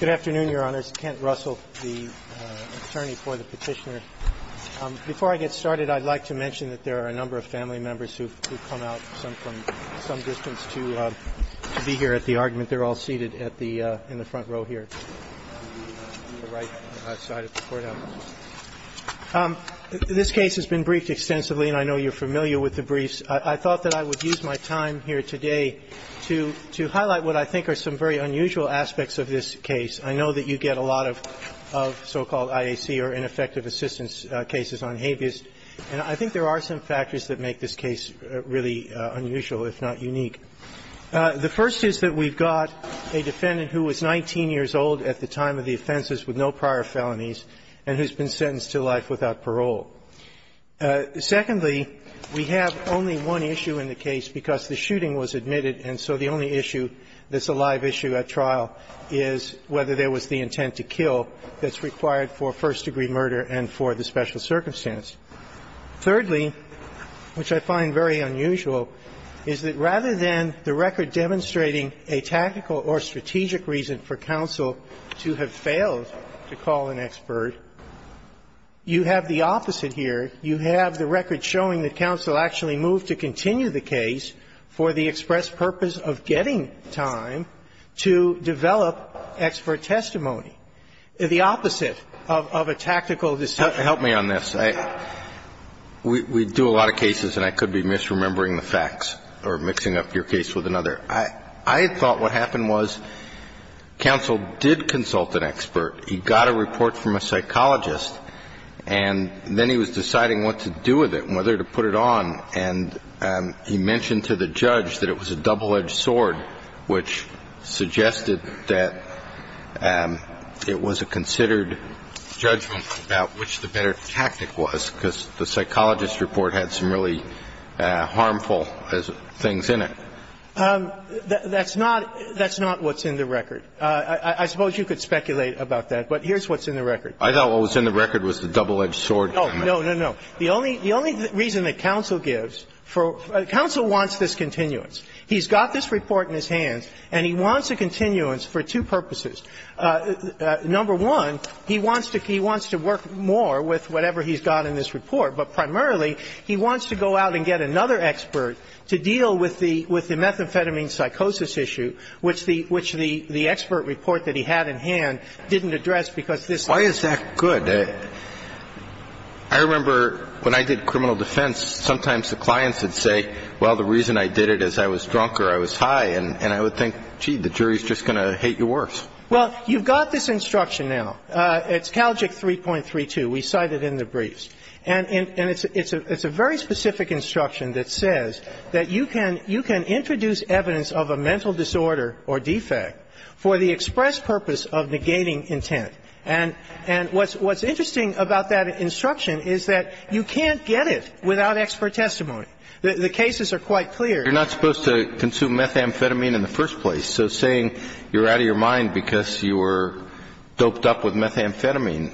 Good afternoon, Your Honors. Kent Russell, the attorney for the petitioner. Before I get started, I'd like to mention that there are a number of family members who've come out from some distance to be here at the argument. They're all seated in the front row here. This case has been briefed extensively, and I know you're familiar with the briefs. I thought that I would use my time here today to highlight what I think are some very unusual aspects of this case. I know that you get a lot of so-called IAC or ineffective assistance cases on habeas, and I think there are some factors that make this case really unusual, if not unique. The first is that we've got a defendant who was 19 years old at the time of the offenses with no prior felonies and who's been sentenced to life without parole. Secondly, we have only one issue in the case because the shooting was admitted, and so the only issue that's a live issue at trial is whether there was the intent to kill that's required for first-degree murder and for the special circumstance. Thirdly, which I find very unusual, is that rather than the record demonstrating a tactical or strategic reason for counsel to have failed to call an expert, you have the opposite here. You have the record showing that counsel actually moved to continue the case for the express purpose of getting time to develop expert testimony, the opposite of a tactical decision. Help me on this. We do a lot of cases, and I could be misremembering the facts or mixing up your case with another. I thought what happened was counsel did consult an expert. He got a report from a psychologist, and then he was deciding what to do with it and whether to put it on, and he mentioned to the judge that it was a double-edged sword, which suggested that it was a considered judgment about which the better tactic was because the psychologist's report had some really harmful things in it. That's not what's in the record. I suppose you could speculate about that, but here's what's in the record. I thought what was in the record was the double-edged sword. No, no, no, no. The only reason that counsel gives for the counsel wants this continuance. He's got this report in his hands, and he wants a continuance for two purposes. Number one, he wants to work more with whatever he's got in this report, but primarily he wants to go out and get another expert to deal with the methamphetamine psychosis issue, which the expert report that he had in hand didn't address because this was a good. I remember when I did criminal defense, sometimes the clients would say, well, the reason I did it is I was drunk or I was high, and I would think, gee, the jury's just going to hate you worse. Well, you've got this instruction now. It's Calgic 3.32. We cite it in the briefs. And it's a very specific instruction that says that you can introduce evidence of a mental disorder or defect for the express purpose of negating intent. And what's interesting about that instruction is that you can't get it without expert testimony. The cases are quite clear. Kennedy, you're not supposed to consume methamphetamine in the first place. So saying you're out of your mind because you were doped up with methamphetamine,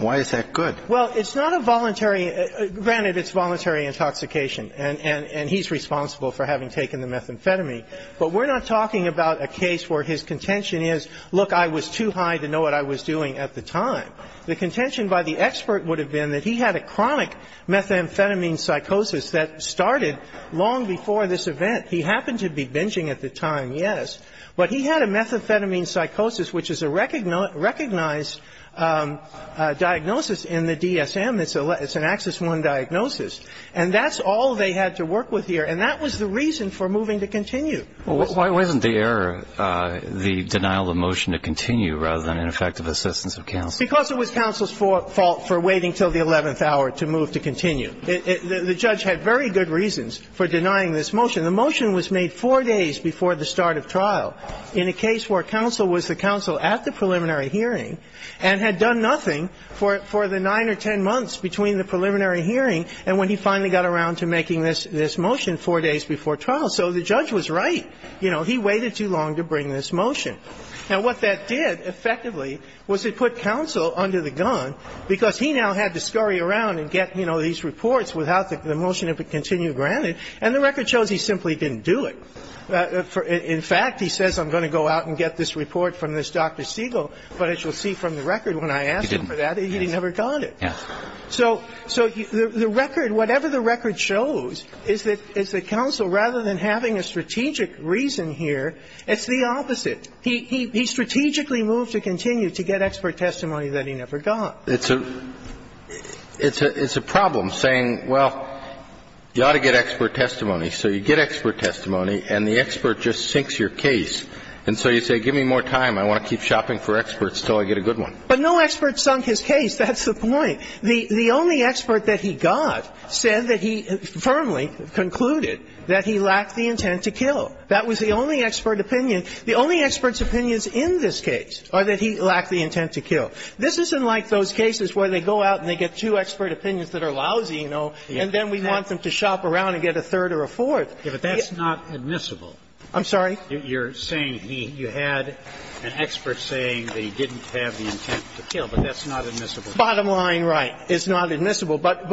why is that good? Well, it's not a voluntary – granted, it's voluntary intoxication, and he's responsible for having taken the methamphetamine, but we're not talking about a case where his contention is, look, I was too high to know what I was doing at the time. The contention by the expert would have been that he had a chronic methamphetamine psychosis that started long before this event. He happened to be binging at the time, yes, but he had a methamphetamine psychosis, which is a recognized diagnosis in the DSM. It's an Axis I diagnosis. And that's all they had to work with here, and that was the reason for moving to continue. Well, why wasn't the error the denial of motion to continue rather than an effective assistance of counsel? Because it was counsel's fault for waiting until the 11th hour to move to continue. The judge had very good reasons for denying this motion. The motion was made four days before the start of trial in a case where counsel was the counsel at the preliminary hearing and had done nothing for the 9 or 10 months between the preliminary hearing and when he finally got around to making this motion four days before trial. So the judge was right. You know, he waited too long to bring this motion. Now, what that did, effectively, was it put counsel under the gun because he now had to scurry around and get, you know, these reports without the motion to continue granted. And the record shows he simply didn't do it. In fact, he says, I'm going to go out and get this report from this Dr. Siegel. But as you'll see from the record, when I asked him for that, he never got it. So the record, whatever the record shows, is that it's the counsel, rather than having a strategic reason here, it's the opposite. He strategically moved to continue to get expert testimony that he never got. It's a problem saying, well, you ought to get expert testimony. So you get expert testimony, and the expert just sinks your case. And so you say, give me more time. I want to keep shopping for experts until I get a good one. But no expert sunk his case. That's the point. The only expert that he got said that he firmly concluded that he lacked the intent to kill. That was the only expert opinion. The only expert's opinions in this case are that he lacked the intent to kill. This isn't like those cases where they go out and they get two expert opinions that are lousy, you know, and then we want them to shop around and get a third or a fourth. Kennedy. But that's not admissible. I'm sorry? You're saying he had an expert saying that he didn't have the intent to kill, but that's not admissible. Bottom line, right, it's not admissible. But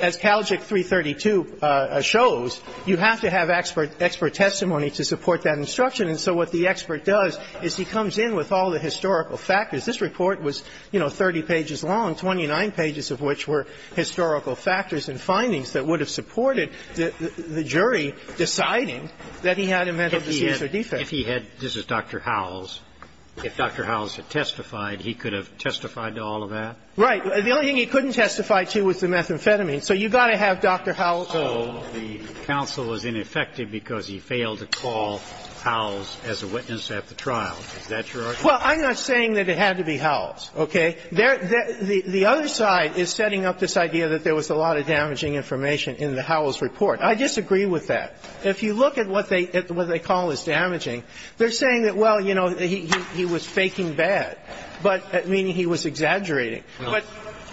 as Calgic 332 shows, you have to have expert testimony to support that instruction. And so what the expert does is he comes in with all the historical factors. This report was, you know, 30 pages long, 29 pages of which were historical factors and findings that would have supported the jury deciding that he had a mental disease or defect. If he had Dr. Howells, if Dr. Howells had testified, he could have testified to all of that? Right. The only thing he couldn't testify to was the methamphetamine. So you've got to have Dr. Howells. So the counsel was ineffective because he failed to call Howells as a witness at the trial. Is that your argument? Well, I'm not saying that it had to be Howells, okay? The other side is setting up this idea that there was a lot of damaging information in the Howells report. I disagree with that. If you look at what they call as damaging, they're saying that, well, you know, he was faking bad, but meaning he was exaggerating.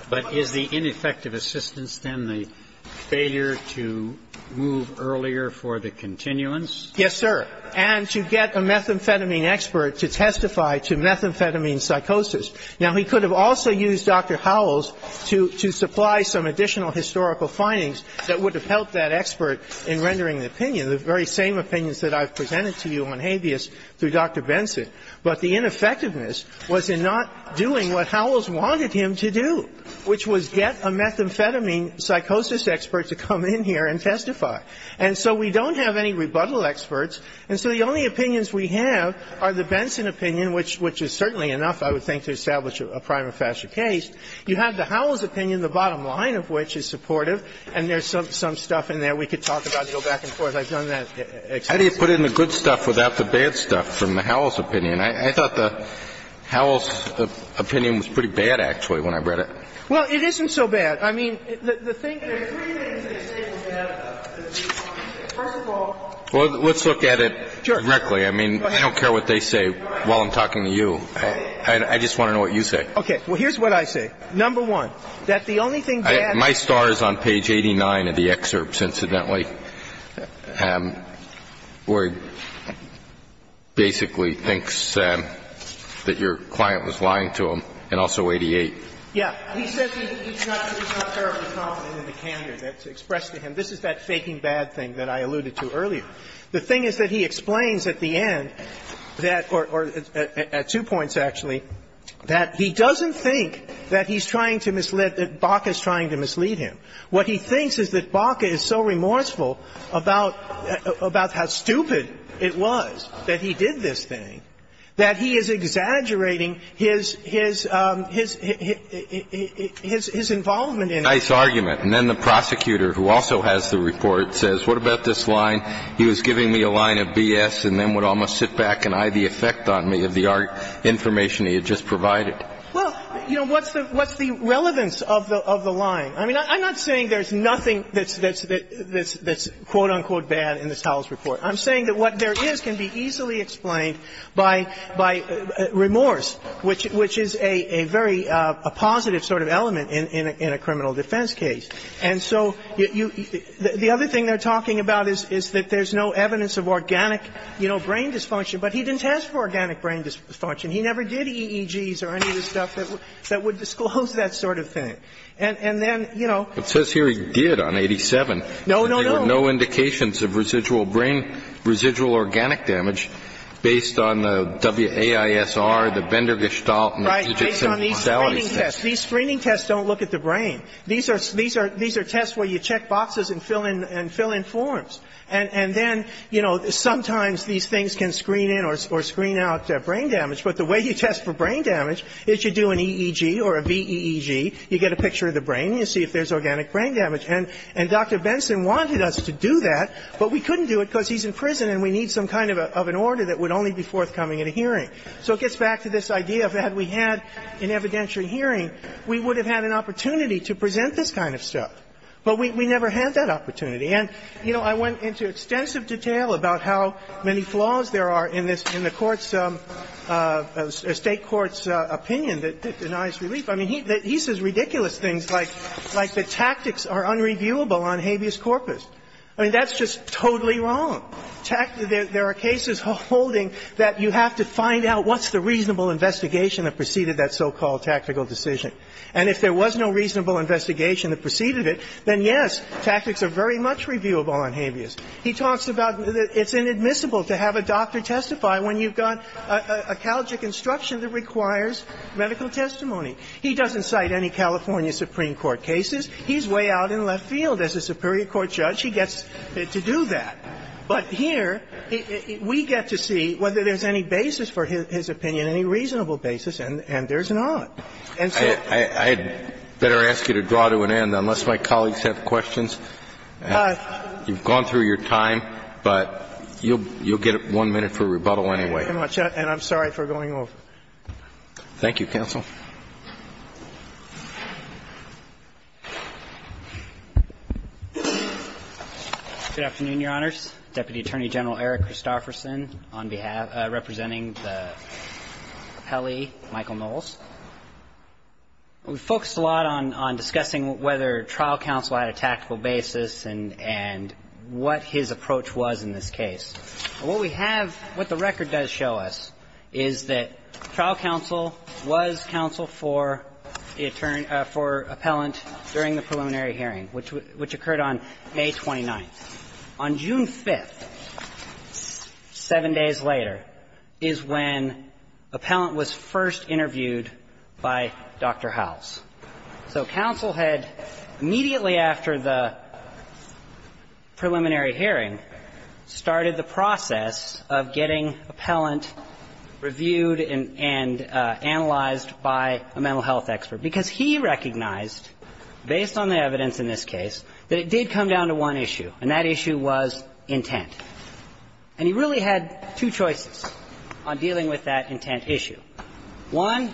But is the ineffective assistance then the failure to move earlier for the continuance? Yes, sir. And to get a methamphetamine expert to testify to methamphetamine psychosis. Now, he could have also used Dr. Howells to supply some additional historical findings that would have helped that expert in rendering an opinion, the very same opinions that I've presented to you on habeas through Dr. Benson. But the ineffectiveness was in not doing what Howells wanted him to do, which was get a methamphetamine psychosis expert to come in here and testify. And so we don't have any rebuttal experts. And so the only opinions we have are the Benson opinion, which is certainly enough, I would think, to establish a prima facie case. You have the Howells opinion, the bottom line of which is supportive, and there's some stuff in there we could talk about and go back and forth. I've done that extensively. Kennedy, how do you put in the good stuff without the bad stuff from the Howells opinion? I thought the Howells opinion was pretty bad, actually, when I read it. Well, it isn't so bad. I mean, the thing is that there are three things that say it's bad about it. First of all... Well, let's look at it directly. I mean, I don't care what they say while I'm talking to you. And I just want to know what you say. Okay. Well, here's what I say. Number one, that the only thing that... My star is on page 89 of the excerpts, incidentally, where he basically thinks that your client was lying to him and also 88. Yeah. He says he's not... He's not terribly confident in the candor that's expressed to him. And this is that faking bad thing that I alluded to earlier. The thing is that he explains at the end that... Or at two points, actually, that he doesn't think that he's trying to mislead... That Baca's trying to mislead him. What he thinks is that Baca is so remorseful about how stupid it was that he did this thing that he is exaggerating his involvement in it. And that's a nice argument. And then the prosecutor, who also has the report, says, what about this line, he was giving me a line of BS and then would almost sit back and eye the effect on me of the information he had just provided. Well, you know, what's the relevance of the line? I mean, I'm not saying there's nothing that's quote, unquote, bad in this Howell's report. I'm saying that what there is can be easily explained by remorse, which is a very positive sort of element in a criminal defense case. And so the other thing they're talking about is that there's no evidence of organic brain dysfunction. But he didn't test for organic brain dysfunction. He never did EEGs or any of the stuff that would disclose that sort of thing. And then, you know... But it says here he did on 87. No, no, no. There were no indications of residual brain, residual organic damage based on the AISR, the Bender Gestalt... Right. Based on these screening tests. These screening tests don't look at the brain. These are tests where you check boxes and fill in forms. And then, you know, sometimes these things can screen in or screen out brain damage. But the way you test for brain damage is you do an EEG or a VEEG. You get a picture of the brain. You see if there's organic brain damage. And Dr. Benson wanted us to do that, but we couldn't do it because he's in prison So it gets back to this idea that had we had an evidentiary hearing, we would have had an opportunity to present this kind of stuff. But we never had that opportunity. And, you know, I went into extensive detail about how many flaws there are in this – in the Court's – State Court's opinion that denies relief. I mean, he says ridiculous things like the tactics are unreviewable on habeas corpus. I mean, that's just totally wrong. There are cases holding that you have to find out what's the reasonable investigation that preceded that so-called tactical decision. And if there was no reasonable investigation that preceded it, then, yes, tactics are very much reviewable on habeas. He talks about it's inadmissible to have a doctor testify when you've got a calgic instruction that requires medical testimony. He doesn't cite any California Supreme Court cases. He's way out in left field as a Superior Court judge. He gets to do that. But here, we get to see whether there's any basis for his opinion, any reasonable basis, and there's not. And so – Kennedy, I'd better ask you to draw to an end, unless my colleagues have questions. You've gone through your time, but you'll get one minute for rebuttal anyway. Thank you, counsel. Good afternoon, Your Honors. Deputy Attorney General Eric Christofferson on behalf – representing the rappellee Michael Knowles. We focused a lot on discussing whether trial counsel had a tactical basis and what his approach was in this case. What we have – what the record does show us is that trial counsel was counsel for the – for appellant during the preliminary hearing, which occurred on May 29th. On June 5th, seven days later, is when appellant was first interviewed by Dr. Howells. So counsel had, immediately after the preliminary hearing, started the process of getting appellant reviewed and analyzed by a mental health expert, because he recognized, based on the evidence in this case, that it did come down to one issue, and that issue was intent. And he really had two choices on dealing with that intent issue. One,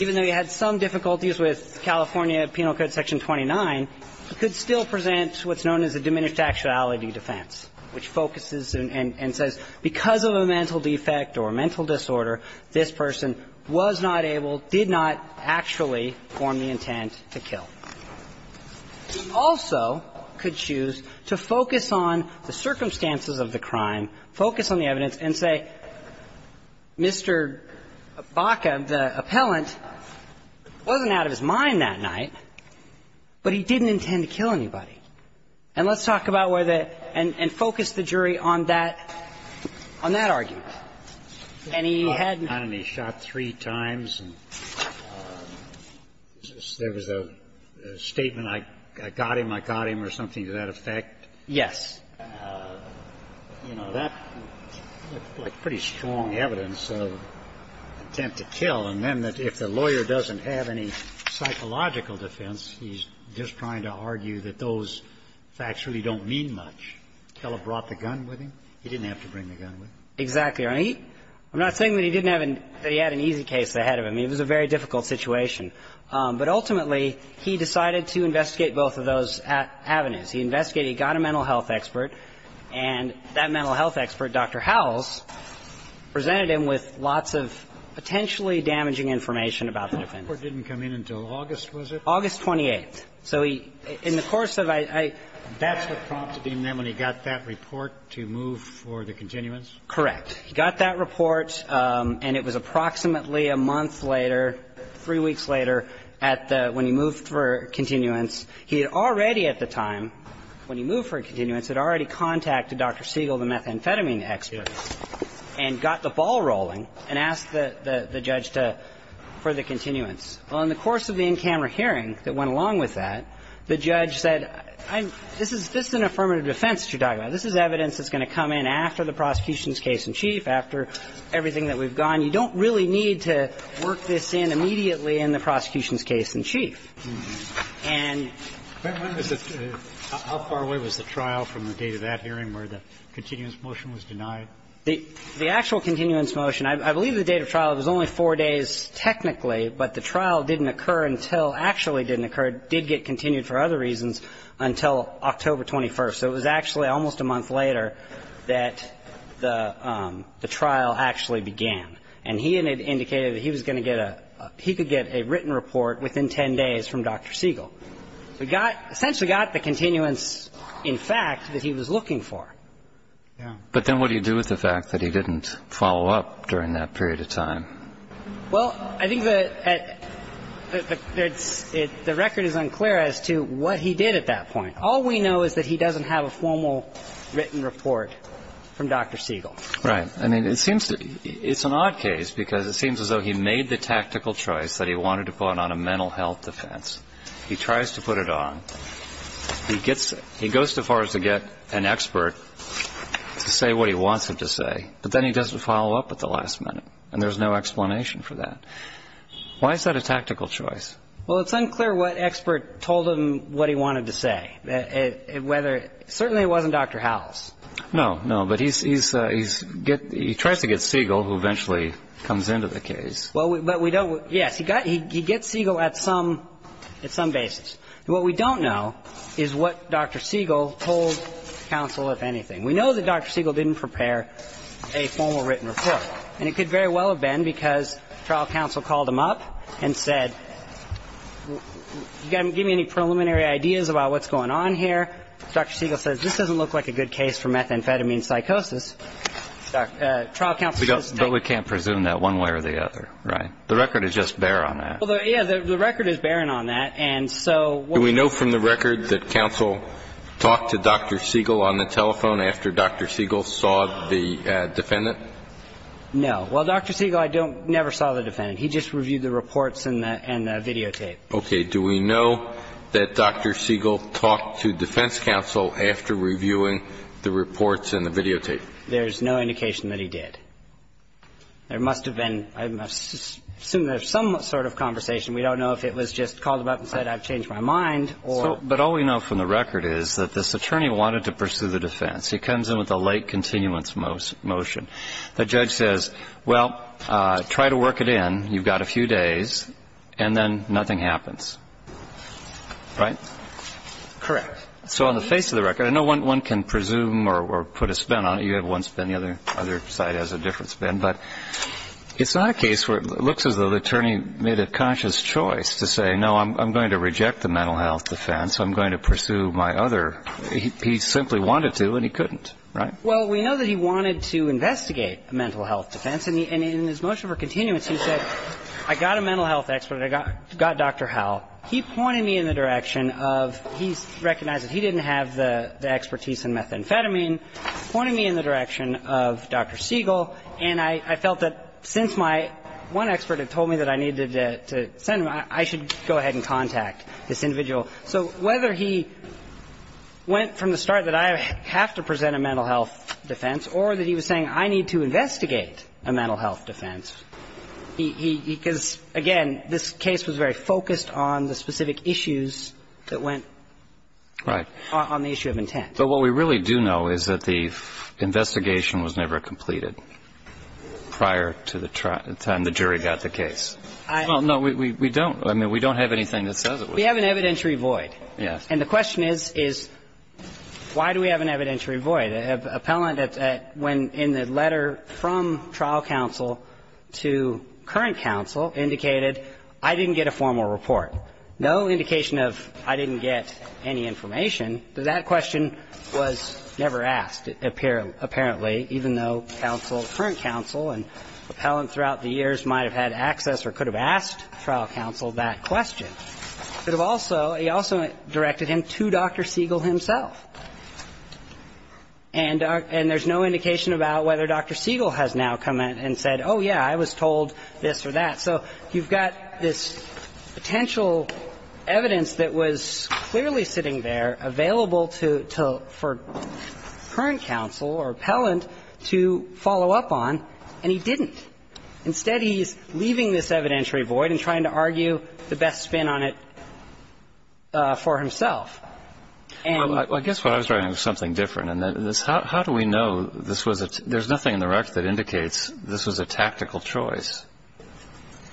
even though he had some difficulties with California Penal Code Section 29, he could still present what's known as a diminished actuality defense, which focuses and says, because of a mental defect or a mental disorder, this person was not able, did not actually form the intent to kill. He also could choose to focus on the circumstances of the crime, focus on the evidence, and say, Mr. Baca, the appellant, wasn't out of his mind that night, but he didn't intend to kill anybody. And let's talk about where the – and focus the jury on that – on that argument. And he had – And he shot three times, and there was a statement, I got him, I got him, or something to that effect. Yes. You know, that's pretty strong evidence of intent to kill, and then that if the lawyer doesn't have any psychological defense, he's just trying to argue that those facts really don't mean much. Kellogg brought the gun with him. He didn't have to bring the gun with him. Exactly. I'm not saying that he didn't have an – that he had an easy case ahead of him. It was a very difficult situation. But ultimately, he decided to investigate both of those avenues. He investigated, he got a mental health expert, and that mental health expert, Dr. Howells, presented him with lots of potentially damaging information about the defendant. The report didn't come in until August, was it? August 28th. So he – in the course of – I – That's what prompted him, then, when he got that report, to move for the continuance? Correct. He got that report, and it was approximately a month later, three weeks later, at the – when he moved for continuance. He had already at the time, when he moved for continuance, had already contacted Dr. Siegel, the methamphetamine expert, and got the ball rolling and asked the judge to – for the continuance. Well, in the course of the in-camera hearing that went along with that, the judge said, I'm – this is – this is an affirmative defense that you're talking about. This is evidence that's going to come in after the prosecution's case in chief, after everything that we've gone. And the trial didn't occur until – actually didn't occur, did get continued for other reasons, until October 21st. So it was actually almost a month later that the trial actually began, and he had indicated that he was going to get a – he could get a written report within 10 days from Dr. Siegel. So he got – essentially got the continuance, in fact, that he was looking for. Yeah. But then what do you do with the fact that he didn't follow up during that period of time? Well, I think the – the record is unclear as to what he did at that point. All we know is that he doesn't have a formal written report from Dr. Siegel. Right. I mean, it seems to – it's an odd case, because it seems as though he made the tactical choice that he wanted to put on a mental health defense. He tries to put it on. He gets – he goes so far as to get an expert to say what he wants him to say, but then he doesn't follow up at the last minute, and there's no explanation for that. Why is that a tactical choice? Well, it's unclear what expert told him what he wanted to say, whether – certainly it wasn't Dr. Howells. No. No. But he's – he tries to get Siegel, who eventually comes into the case. Well, but we don't – yes, he got – he gets Siegel at some – at some basis. What we don't know is what Dr. Siegel told counsel, if anything. We know that Dr. Siegel didn't prepare a formal written report, and it could very well have been because trial counsel called him up and said, you got to give me any preliminary ideas about what's going on here. Dr. Siegel says, this doesn't look like a good case for methamphetamine psychosis. But we can't presume that one way or the other, right? The record is just barren on that. Well, yeah, the record is barren on that, and so what we know from the record that counsel talked to Dr. Siegel on the telephone after Dr. Siegel saw the defendant? No. Well, Dr. Siegel, I don't – never saw the defendant. He just reviewed the reports and the – and the videotape. Okay. Do we know that Dr. Siegel talked to defense counsel after reviewing the reports and the videotape? There's no indication that he did. There must have been – I assume there's some sort of conversation. We don't know if it was just called him up and said, I've changed my mind, or – But all we know from the record is that this attorney wanted to pursue the defense. He comes in with a late continuance motion. The judge says, well, try to work it in. You've got a few days, and then nothing happens, right? Correct. So on the face of the record, I know one can presume or put a spin on it. You have one spin. The other side has a different spin. But it's not a case where it looks as though the attorney made a conscious choice to say, no, I'm going to reject the mental health defense. I'm going to pursue my other – he simply wanted to, and he couldn't, right? Well, we know that he wanted to investigate a mental health defense, and in his motion for continuance, he said, I got a mental health expert, and I got Dr. Howell. He pointed me in the direction of – he's recognized that he didn't have the expertise in methamphetamine, pointing me in the direction of Dr. Siegel. And I felt that since my – one expert had told me that I needed to send him, I should go ahead and contact this individual. So whether he went from the start that I have to present a mental health defense or that he was saying I need to investigate a mental health defense, he – because, again, this case was very focused on the specific issues that went on the issue of intent. But what we really do know is that the investigation was never completed prior to the time the jury got the case. No, we don't. I mean, we don't have anything that says it was. We have an evidentiary void. Yes. And the question is, is why do we have an evidentiary void? An appellant, when in the letter from trial counsel to current counsel, indicated I didn't get a formal report. No indication of I didn't get any information. That question was never asked, apparently, even though counsel – current counsel and appellant throughout the years might have had access or could have asked trial counsel that question. It also – he also directed him to Dr. Siegel himself. And there's no indication about whether Dr. Siegel has now come in and said, oh, yeah, I was told this or that. So you've got this potential evidence that was clearly sitting there, available to – for current counsel or appellant to follow up on, and he didn't. Instead, he's leaving this evidentiary void and trying to argue the best spin on it for himself. And – Well, I guess what I was writing was something different. And this – how do we know this was a – there's nothing in the record that indicates this was a tactical choice?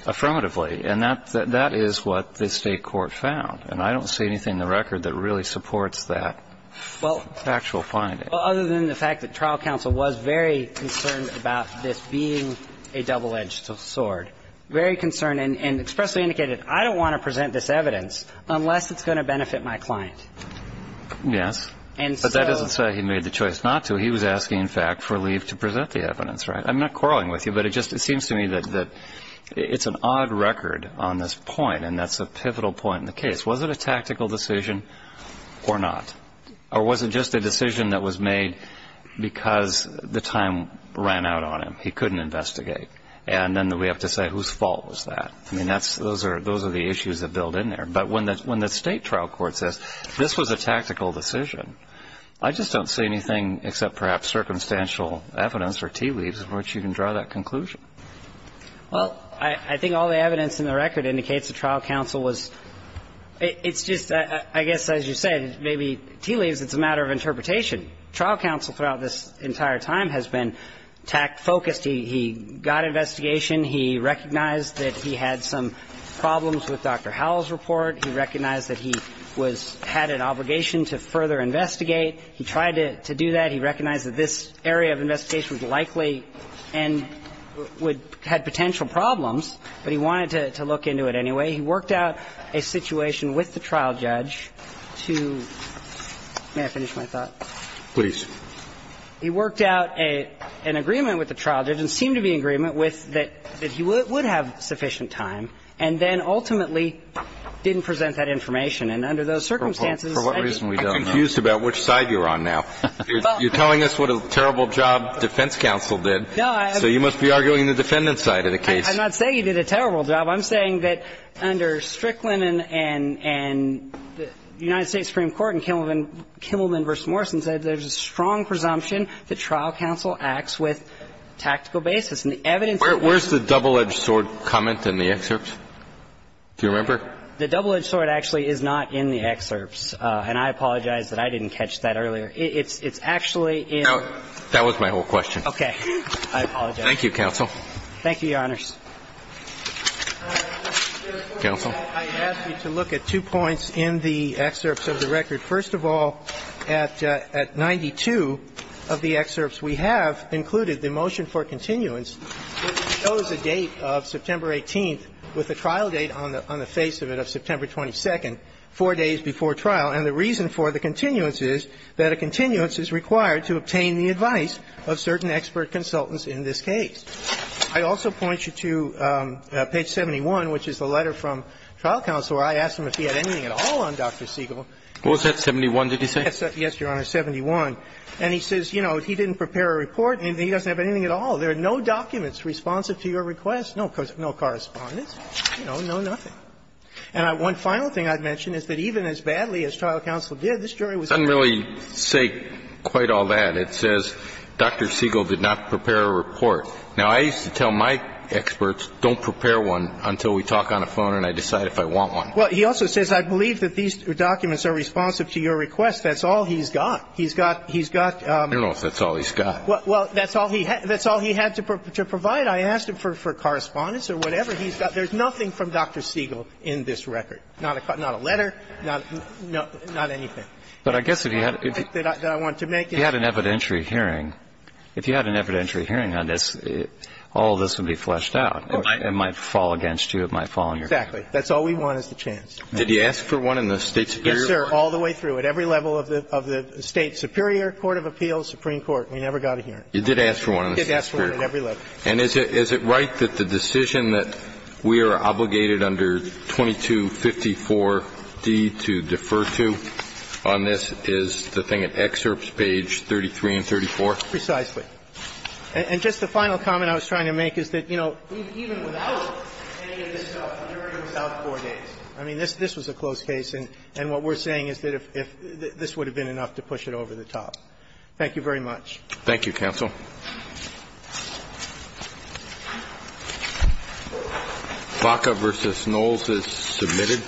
Affirmatively. And that is what the State court found. And I don't see anything in the record that really supports that factual finding. Well, other than the fact that trial counsel was very concerned about this being a double-edged sword, very concerned and expressly indicated, I don't want to present this evidence unless it's going to benefit my client. Yes. And so – But that doesn't say he made the choice not to. He was asking, in fact, for leave to present the evidence, right? I'm not quarreling with you, but it just – it seems to me that it's an odd record on this point, and that's a pivotal point in the case. Was it a tactical decision or not? Or was it just a decision that was made because the time ran out on him? He couldn't investigate. And then we have to say whose fault was that? I mean, that's – those are – those are the issues that build in there. But when the State trial court says, this was a tactical decision, I just don't see anything except perhaps circumstantial evidence or tea leaves from which you can draw that conclusion. Well, I think all the evidence in the record indicates that trial counsel was – it's just – I guess, as you said, maybe tea leaves, it's a matter of interpretation. Trial counsel throughout this entire time has been tacked – focused. He got investigation. He recognized that he had some problems with Dr. Howell's report. He recognized that he was – had an obligation to further investigate. He tried to do that. He recognized that this area of investigation was likely and would – had potential problems, but he wanted to look into it anyway. He worked out a situation with the trial judge to – may I finish my thought? Please. He worked out a – an agreement with the trial judge, and it seemed to be an agreement with that he would have sufficient time, and then ultimately didn't present that information. I'm not saying you did a terrible job. I'm saying that under Strickland and – and the United States Supreme Court and Kimmelman – Kimmelman v. Morrison said there's a strong presumption that trial counsel acts with tactical basis, and the evidence of that – Where's the double-edged sword comment in the excerpts? Do you remember? The double-edged sword actually is not in the excerpts, and I apologize that I didn't catch that. I apologize that I didn't catch that earlier. It's – it's actually in the – No, that was my whole question. Okay. I apologize. Thank you, counsel. Thank you, Your Honors. Counsel? I ask you to look at two points in the excerpts of the record. First of all, at – at 92 of the excerpts, we have included the motion for continuance, which shows a date of September 18th with a trial date on the – on the face of it of September 22nd, four days before trial. And the reason for the continuance is that a continuance is required to obtain the advice of certain expert consultants in this case. I also point you to page 71, which is the letter from trial counsel, where I asked him if he had anything at all on Dr. Siegel. Was that 71, did he say? Yes, Your Honor, 71. And he says, you know, he didn't prepare a report, and he doesn't have anything at all. There are no documents responsive to your request, no correspondence, you know, no nothing. And one final thing I'd mention is that even as badly as trial counsel did, this jury was very – It doesn't really say quite all that. It says Dr. Siegel did not prepare a report. Now, I used to tell my experts, don't prepare one until we talk on the phone and I decide if I want one. Well, he also says, I believe that these documents are responsive to your request. That's all he's got. He's got – he's got – I don't know if that's all he's got. Well, that's all he – that's all he had to provide. I asked him for correspondence or whatever. There's nothing from Dr. Siegel in this record. Not a letter, not anything. But I guess if he had – That I want to make. He had an evidentiary hearing. If he had an evidentiary hearing on this, all of this would be fleshed out. Of course. It might fall against you. It might fall on your – Exactly. That's all we want is the chance. Did he ask for one in the State superior court? Yes, sir, all the way through, at every level of the State superior court of appeals, Supreme Court. We never got a hearing. He did ask for one in the State superior court. He did ask for one at every level. And is it right that the decision that we are obligated under 2254d to defer to on this is the thing at excerpts page 33 and 34? Precisely. And just the final comment I was trying to make is that, you know, even without any of this stuff, he already was out four days. I mean, this was a closed case, and what we're saying is that if – this would have been enough to push it over the top. Thank you very much. Thank you, counsel. Thank you. Baca versus Knowles is submitted.